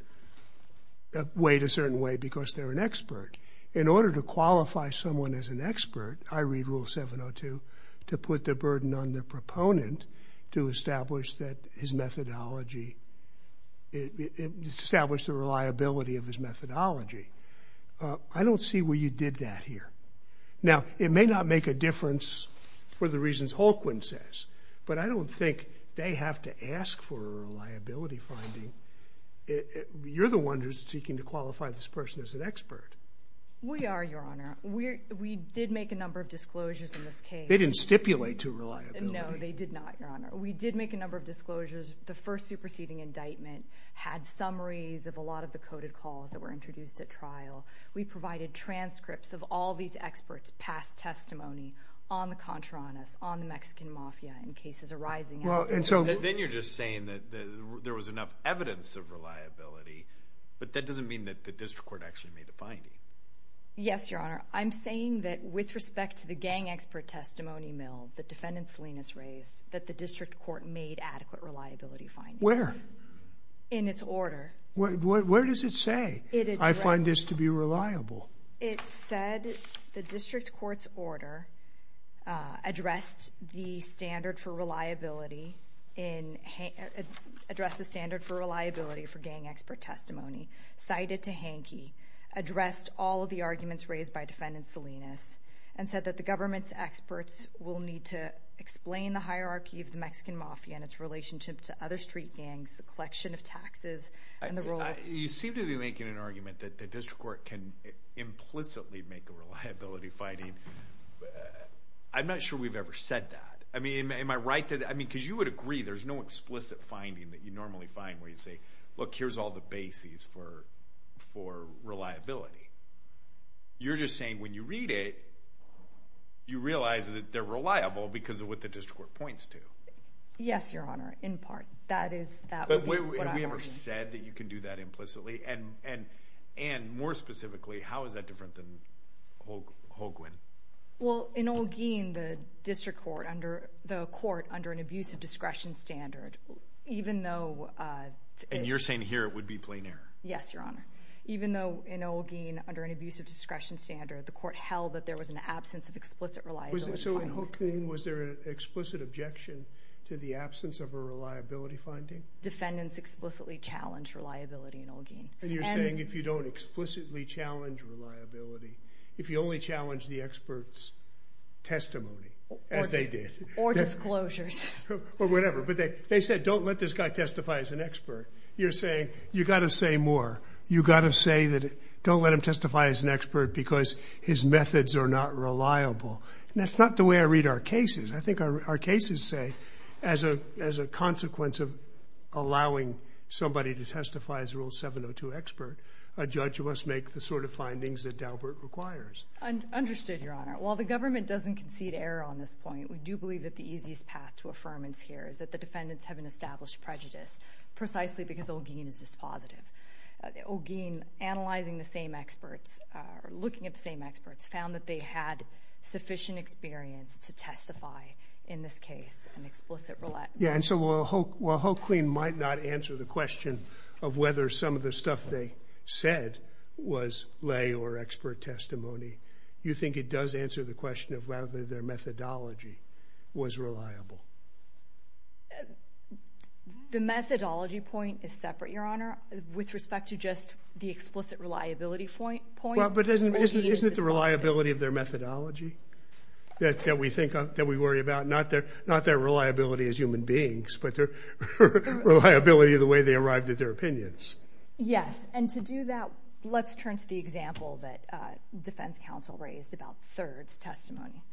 a certain way because they're an expert. In order to qualify someone as an expert, I read Rule 702 to put the burden on the proponent to establish that his methodology... Establish the reliability of his methodology. I don't see where you did that here. Now, it may not make a difference for the reasons Holguin says, but I don't think they have to ask for a reliability finding. You're the one who's seeking to qualify this person as an expert. We are, Your Honor. We did make a number of disclosures in this case. They didn't stipulate to reliability. No, they did not, Your Honor. We did make a number of disclosures. The first superseding indictment had summaries of a lot of the coded calls that were introduced at trial. We provided transcripts of all these experts' past testimony on the Contreras, on the Mexican Mafia, in cases arising... Well, and so... Then you're just saying that there was enough evidence of reliability, but that doesn't mean that the district court actually made the finding. Yes, Your Honor. I'm saying that with respect to the gang expert testimony mill that Defendant Salinas raised, that the district court made adequate reliability findings. Where? In its order. Where does it say, I find this to be reliable? It said the district court's order addressed the standard for reliability for gang expert testimony, cited to Hankey, addressed all of the arguments raised by Defendant Salinas, and said that the government's experts will need to explain the hierarchy of the Mexican Mafia and its relationship to other street gangs, the collection of taxes, and the role of... You seem to be making an argument that the district court can implicitly make a reliability finding. I'm not sure we've ever said that. I mean, am I right to... I mean, because you would agree there's no explicit finding that you normally find where you say, look, here's all the bases for reliability. You're just saying when you read it, you realize that they're reliable because of what the district court points to. Yes, Your Honor, in part. That is what I'm arguing. Have we ever said that you can do that implicitly? And more specifically, how is that different than Holguin? Well, in Holguin, the court under an abusive discretion standard, even though... And you're saying here it would be plain error. Yes, Your Honor. Even though in Holguin, under an abusive discretion standard, the court held that there was an absence of explicit reliability findings. So in Holguin, was there an explicit objection to the absence of a reliability finding? Defendants explicitly challenged reliability in Holguin. And you're saying if you don't explicitly challenge reliability, if you only challenge the expert's testimony, as they did... Or disclosures. Or whatever. But they said, don't let this guy testify as an expert. You're saying you got to say more. You got to say that don't let him testify as an expert because his methods are not reliable. And that's not the way I read our cases. I think our cases say, as a consequence of allowing somebody to testify as Rule 702 expert, a judge must make the sort of findings that Daubert requires. Understood, Your Honor. While the government doesn't concede error on this point, we do believe that the easiest path to affirmance here is that the defendants have an established prejudice, precisely because Holguin is dispositive. Holguin, analyzing the same experts, looking at the same experts, found that they had sufficient experience to testify in this case, an explicit roulette. Yeah, and so while Holguin might not answer the question of whether some of the stuff they said was lay or expert testimony, you think it does answer the question of whether their methodology was reliable? The methodology point is separate, Your Honor, with respect to just the explicit reliability point. Isn't it the reliability of their methodology that we worry about? Not their reliability as human beings, but their reliability of the way they arrived at their opinions. Yes. And to do that, let's turn to the example that defense counsel raised about Third's testimony.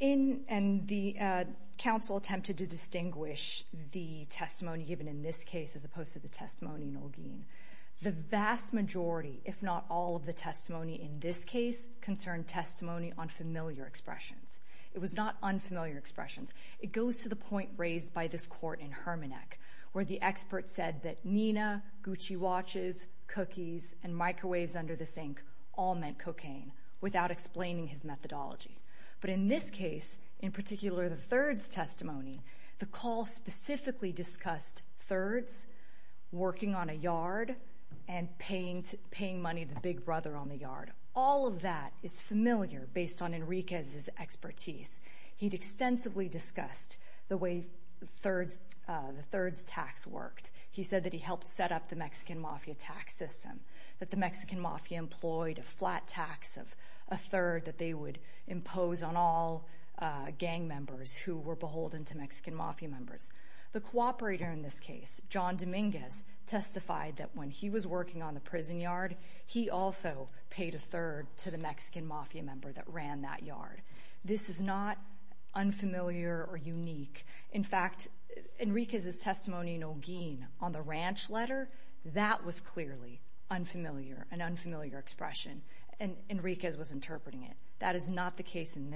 And the counsel attempted to distinguish the testimony given in this case as opposed to the testimony in Holguin. The vast majority, if not all of the testimony in this case, concerned testimony on familiar expressions. It was not unfamiliar expressions. It goes to the point raised by this court in Hermannach, where the expert said that Nina, Gucci watches, cookies, and microwaves under the sink all meant cocaine, without explaining his methodology. But in this case, in particular the Third's testimony, the call specifically discussed Third's working on a yard and paying money to the big brother on the yard. All of that is familiar based on Enriquez's expertise. He'd extensively discussed the way the Third's tax worked. He said that he helped set up the Mexican mafia tax system, that the Mexican mafia employed a flat tax of a third that they would impose on all gang members who were beholden to Mexican mafia members. The cooperator in this case, John Dominguez, testified that when he was working on the prison yard, he also paid a third to the Mexican mafia member that ran that yard. This is not unfamiliar or unique. In fact, Enriquez's testimony in Holguin on the ranch letter, that was clearly unfamiliar, an unfamiliar expression, and Enriquez was interpreting it. That is not the case in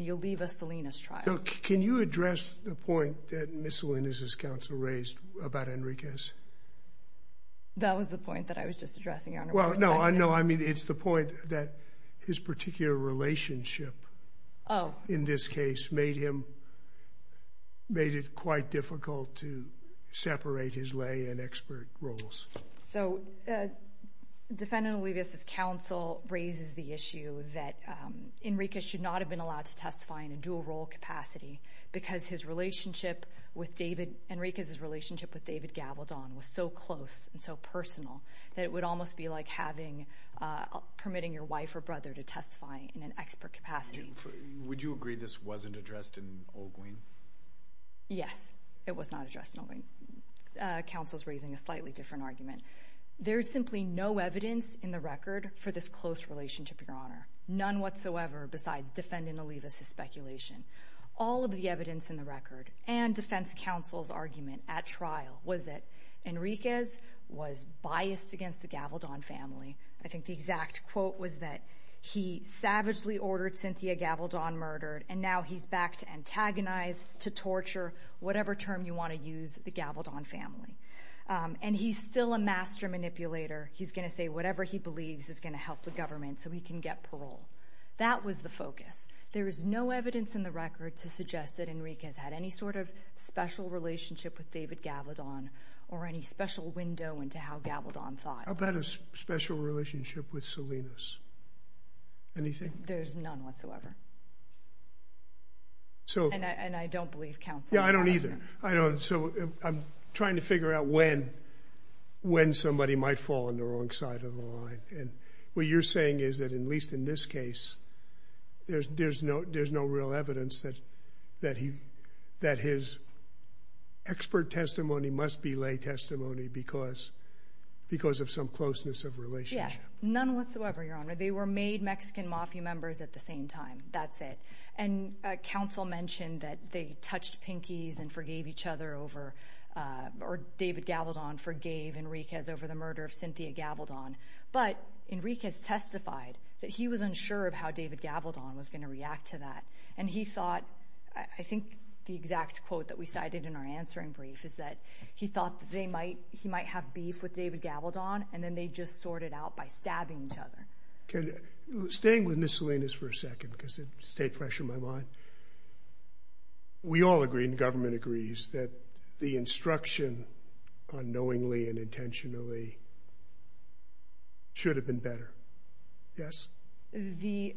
the Oliva-Salinas trial. So can you address the point that Ms. Salinas' counsel raised about Enriquez? That was the point that I was just addressing, Your Honor. Well, no, I mean, it's the point that his particular relationship in this case made him, made it quite difficult to separate his lay and expert roles. So defendant Oliva-Salinas' counsel raises the issue that Enriquez should not have been allowed to testify in a dual role capacity because his relationship with David, Enriquez's relationship with David Gavaldon was so close and so personal that it would almost be like having, permitting your wife or brother to testify in an expert capacity. Would you agree this wasn't addressed in Holguin? Yes, it was not addressed in Holguin. Counsel's raising a slightly different argument. There's simply no evidence in the record for this close relationship, Your Honor, none whatsoever besides defendant Oliva's speculation. All of the evidence in the record and defense counsel's argument at trial was that Enriquez was biased against the Gavaldon family. I think the exact quote was that he savagely ordered Cynthia Gavaldon murdered, and now he's back to antagonize, to torture, whatever term you want to use, the Gavaldon family. And he's still a master manipulator. He's going to say whatever he believes is going to help the government so he can get parole. That was the focus. There is no evidence in the record to suggest that Enriquez had any sort of special relationship with David Gavaldon or any special window into how Gavaldon thought. How about a special relationship with Salinas? Anything? There's none whatsoever. And I don't believe counsel. I don't either. I don't. So I'm trying to figure out when somebody might fall on the wrong side of the line. And what you're saying is that, at least in this case, there's no real evidence that his expert testimony must be lay testimony because of some closeness of relationship. Yes, none whatsoever, Your Honor. They were made Mexican Mafia members at the same time. That's it. And counsel mentioned that they touched pinkies and forgave each other over or David Gavaldon forgave Enriquez over the murder of Cynthia Gavaldon. But Enriquez testified that he was unsure of how David Gavaldon was going to react to that. And he thought, I think the exact quote that we cited in our answering brief is that he thought that they might, he might have beef with David Gavaldon and then they just sorted out by stabbing each other. Staying with Ms. Salinas for a second because it stayed fresh in my mind. We all agree, and government agrees, that the instruction unknowingly and intentionally should have been better. Yes? The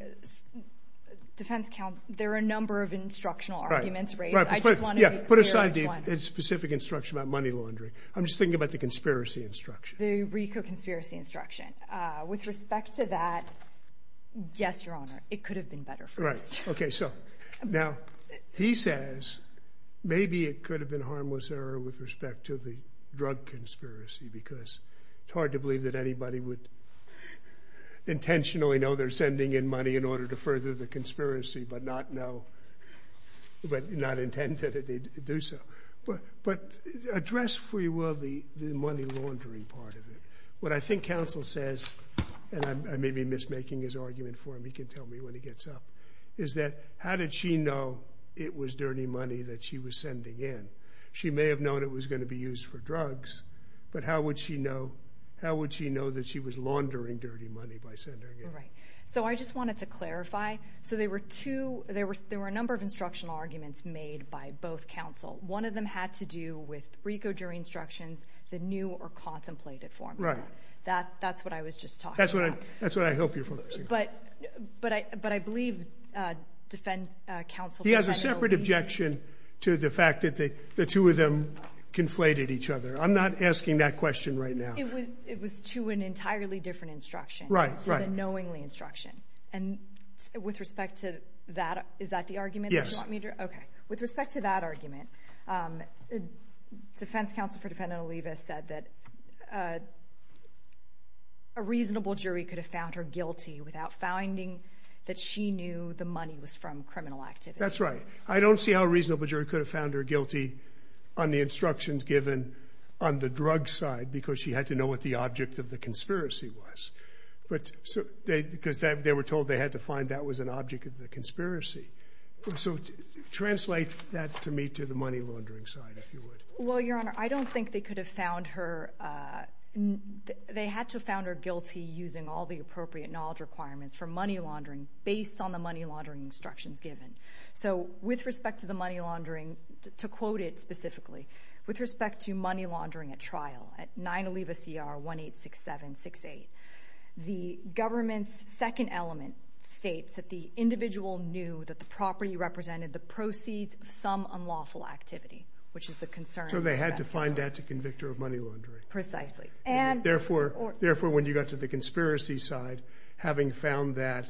defense counsel, there are a number of instructional arguments raised. I just want to be clear on one. Put aside the specific instruction about money laundering. I'm just thinking about the conspiracy instruction. The Rico conspiracy instruction. With respect to that, yes, Your Honor, it could have been better for us. Right. Okay. So now he says, maybe it could have been harmless error with respect to the drug conspiracy because it's hard to believe that anybody would intentionally know they're sending in money in order to further the conspiracy, but not know, but not intend to do so. But address, if we will, the money laundering part of it. What I think counsel says, and I may be mismaking his argument for him, he can tell me when he gets up, is that, how did she know it was dirty money that she was sending in? She may have known it was going to be used for drugs, but how would she know that she was laundering dirty money by sending it? Right. So I just wanted to clarify. So there were a number of instructional arguments made by both counsel. One of them had to do with Rico jury instructions, the new or contemplated formula. Right. That's what I was just talking about. That's what I hope you're focusing on. But I believe defense counsel... He has a separate objection to the fact that the two of them conflated each other. I'm not asking that question right now. It was to an entirely different instruction. Right. The knowingly instruction. And with respect to that, is that the argument that you want me to? Okay. With respect to that argument, defense counsel for defendant Oliva said that a reasonable jury could have found her guilty without finding that she knew the money was from criminal activity. That's right. I don't see how a reasonable jury could have found her guilty on the instructions given on the drug side because she had to know what the object of the conspiracy was. But because they were told they had to find that was an object of the conspiracy. So translate that to me to the money laundering side, if you would. Well, Your Honor, I don't think they could have found her... They had to have found her guilty using all the appropriate knowledge requirements for money laundering based on the money laundering instructions given. So with respect to the money laundering, to quote it specifically, with respect to money laundering at trial at 9 Oliva CR 186768, the government's second element states that the individual knew that the property represented the proceeds of some unlawful activity, which is the concern. So they had to find that to convict her of money laundering. Precisely. Therefore, when you got to the conspiracy side, having found that...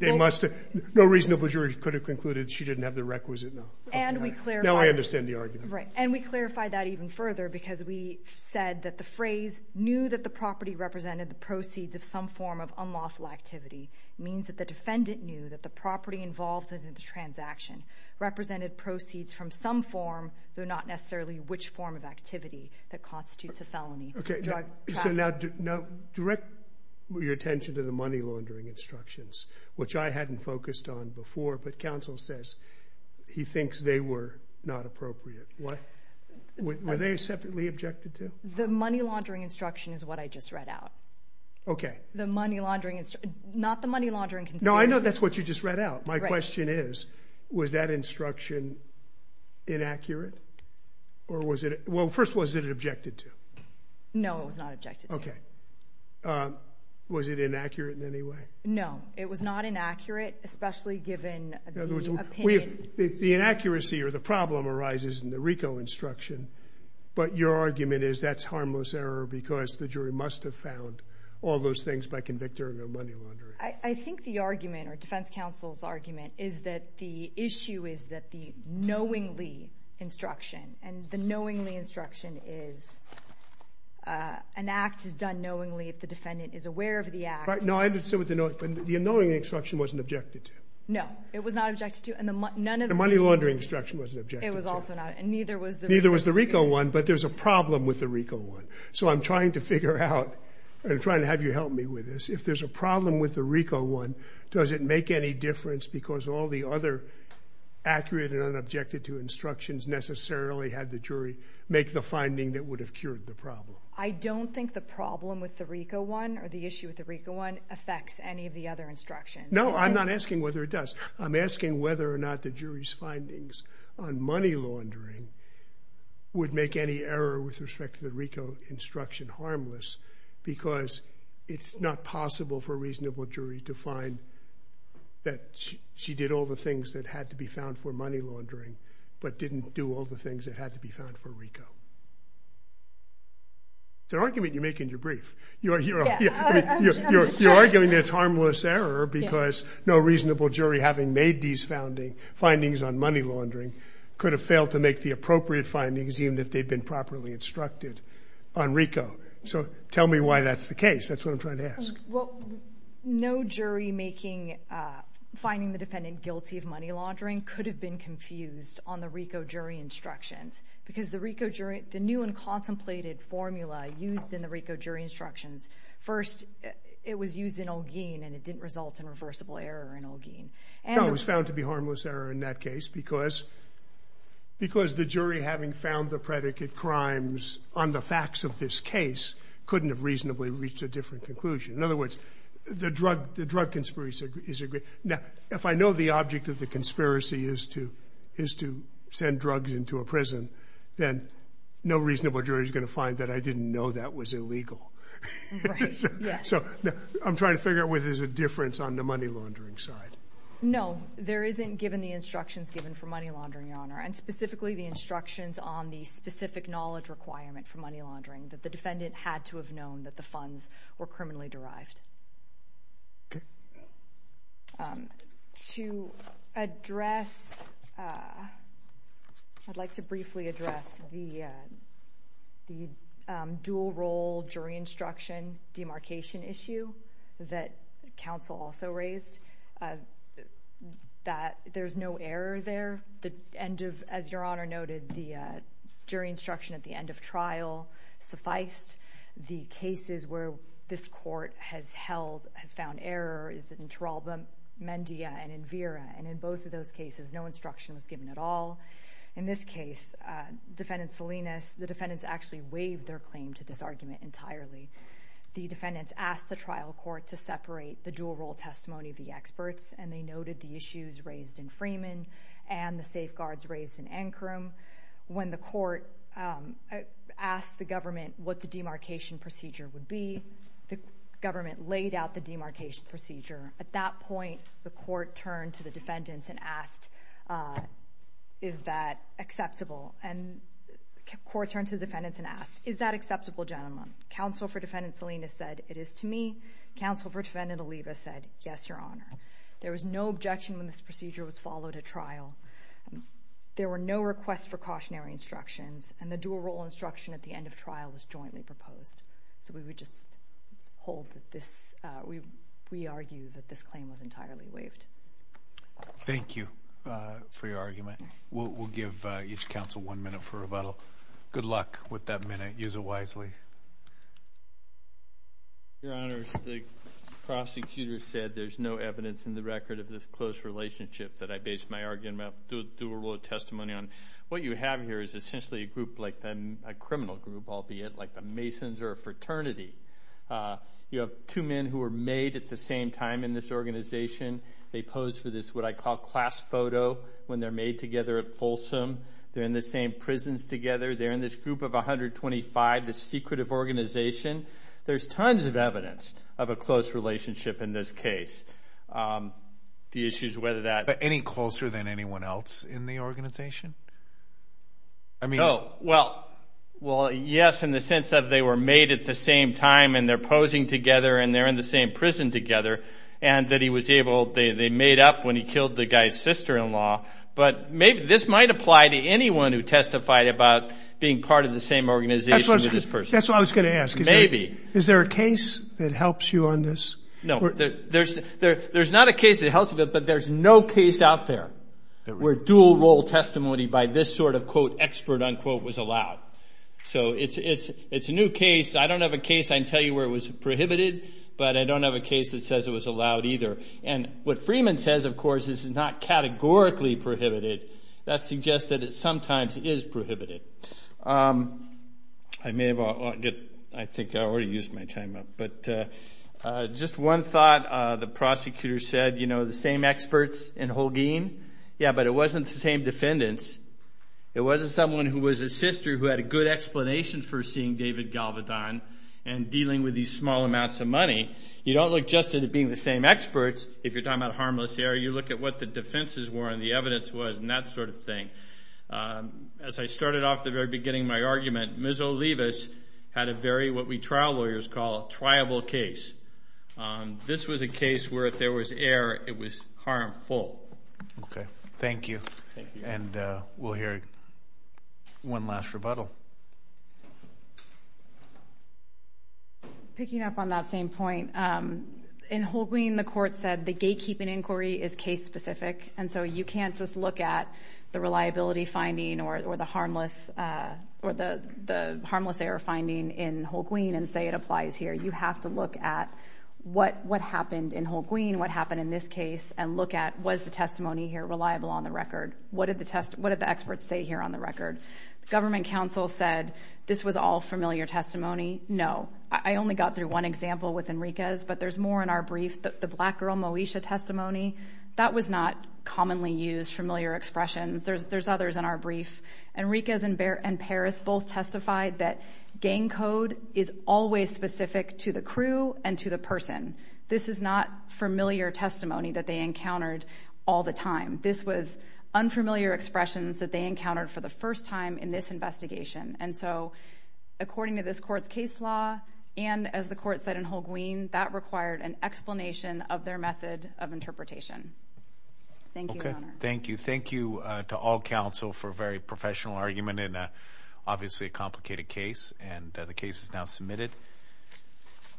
No reasonable jury could have concluded she didn't have the requisite knowledge. And we clarified... Now I understand the argument. And we clarified that even further because we said that the phrase knew that the property represented the proceeds of some form of unlawful activity means that the defendant knew that the property involved in the transaction represented proceeds from some form, though not necessarily which form of activity that constitutes a felony. Okay, so now direct your attention to the money laundering instructions, which I hadn't focused on before, but counsel says he thinks they were not appropriate. Were they separately objected to? The money laundering instruction is what I just read out. Okay. The money laundering... Not the money laundering conspiracy. No, I know that's what you just read out. My question is, was that instruction inaccurate? Or was it... Well, first, was it objected to? No, it was not objected to. Okay. Was it inaccurate in any way? No, it was not inaccurate, especially given the opinion... The inaccuracy or the problem arises in the RICO instruction. But your argument is that's harmless error because the jury must have found all those things by convicting her of money laundering. I think the argument or defense counsel's is that the issue is that the knowingly instruction and the knowingly instruction is... An act is done knowingly if the defendant is aware of the act. No, I understand what the knowingly instruction wasn't objected to. No, it was not objected to. And the money laundering instruction wasn't objected to. It was also not, and neither was the... Neither was the RICO one, but there's a problem with the RICO one. So I'm trying to figure out, I'm trying to have you help me with this. If there's a problem with the RICO one, does it make any difference because all the other accurate and unobjected to instructions necessarily had the jury make the finding that would have cured the problem? I don't think the problem with the RICO one or the issue with the RICO one affects any of the other instructions. No, I'm not asking whether it does. I'm asking whether or not the jury's findings on money laundering would make any error with respect to the RICO instruction harmless because it's not possible for a reasonable jury to find that she did all the things that had to be found for money laundering, but didn't do all the things that had to be found for RICO. It's an argument you make in your brief. You're arguing it's harmless error because no reasonable jury having made these findings on money laundering could have failed to make the appropriate findings even if they'd been properly instructed on RICO. So tell me why that's the case. That's what I'm trying to ask. Well, no jury finding the defendant guilty of money laundering could have been confused on the RICO jury instructions because the new and contemplated formula used in the RICO jury instructions, first, it was used in Olguin and it didn't result in reversible error in Olguin. No, it was found to be harmless error in that case because the jury having found the predicate crimes on the facts of this case couldn't have reasonably reached a different conclusion. In other words, the drug conspiracy is a great... Now, if I know the object of the conspiracy is to send drugs into a prison, then no reasonable jury is going to find that I didn't know that was illegal. Right, yeah. So I'm trying to figure out whether there's a difference on the money laundering side. No, there isn't given the instructions given for money laundering, Your Honor, and specifically the instructions on the specific knowledge requirement for money laundering that the defendant had to have known that the funds were criminally derived. Okay. To address... I'd like to briefly address the dual role jury instruction demarcation issue that counsel also raised that there's no error there. The end of, as Your Honor noted, the jury instruction at the end of trial sufficed. The cases where this court has found error is in Taralba, Mendia, and Invera. And in both of those cases, no instruction was given at all. In this case, Defendant Salinas, the defendants actually waived their claim to this argument entirely. The defendants asked the trial court to separate the dual role testimony of the experts, and they noted the issues raised in Freeman and the safeguards raised in Ankrum. When the court asked the government what the demarcation procedure would be, the government laid out the demarcation procedure. At that point, the court turned to the defendants and asked, is that acceptable? And the court turned to the defendants and asked, is that acceptable, gentlemen? Counsel for Defendant Salinas said, it is to me. Counsel for Defendant Oliva said, yes, Your Honor. There was no objection when this procedure was followed at trial. There were no requests for cautionary instructions, and the dual role instruction at the end of trial was jointly proposed. So we would just hold that this, we argue that this claim was entirely waived. Thank you for your argument. We'll give each counsel one minute for rebuttal. Good luck with that minute. Use it wisely. Your Honor, the prosecutor said, there's no evidence in the record of this close relationship that I base my argument on. Dual role testimony on what you have here is essentially a group, like a criminal group, albeit, like the Masons or a fraternity. You have two men who were made at the same time in this organization. They pose for this, what I call class photo when they're made together at Folsom. They're in the same prisons together. They're in this group of 125, this secretive organization. There's tons of evidence of a close relationship in this case. The issue is whether that- Any closer than anyone else in the organization? I mean- Well, yes, in the sense that they were made at the same time and they're posing together and they're in the same prison together and that he was able, they made up when he killed the guy's sister-in-law. But maybe this might apply to anyone who testified about being part of the same organization with this person. That's what I was going to ask. Maybe. Is there a case that helps you on this? No, there's not a case that helps, but there's no case out there where dual role testimony by this sort of, quote, expert, unquote, was allowed. So it's a new case. I don't have a case. I can tell you where it was prohibited, but I don't have a case that says it was allowed either. And what Freeman says, of course, is not categorically prohibited. That suggests that it sometimes is prohibited. I may have- I think I already used my time up. But just one thought the prosecutor said, the same experts in Holguin. Yeah, but it wasn't the same defendants. It wasn't someone who was a sister who had a good explanation for seeing David Galvedon and dealing with these small amounts of money. You don't look just at it being the same experts. If you're talking about harmless error, you look at what the defenses were and the evidence was and that sort of thing. As I started off at the very beginning of my argument, Ms. Olivas had a very- what we trial lawyers call a triable case. This was a case where if there was error, it was harmful. Okay, thank you. And we'll hear one last rebuttal. Picking up on that same point. In Holguin, the court said the gatekeeping inquiry is case specific. And so you can't just look at the reliability finding or the harmless error finding in Holguin and say it applies here. You have to look at what happened in Holguin, what happened in this case, and look at was the testimony here reliable on the record? What did the experts say here on the record? Government counsel said this was all familiar testimony. No, I only got through one example with Enriquez, but there's more in our brief. The black girl Moesha testimony, that was not commonly used familiar expressions. There's others in our brief. Enriquez and Paris both testified that gang code is always specific to the crew and to the person. This is not familiar testimony that they encountered all the time. This was unfamiliar expressions that they encountered for the first time in this investigation. And so according to this court's case law, and as the court said in Holguin, that required an explanation of their method of interpretation. Thank you. Thank you. Thank you to all counsel for a very professional argument in obviously a complicated case. And the case is now submitted. Thank you.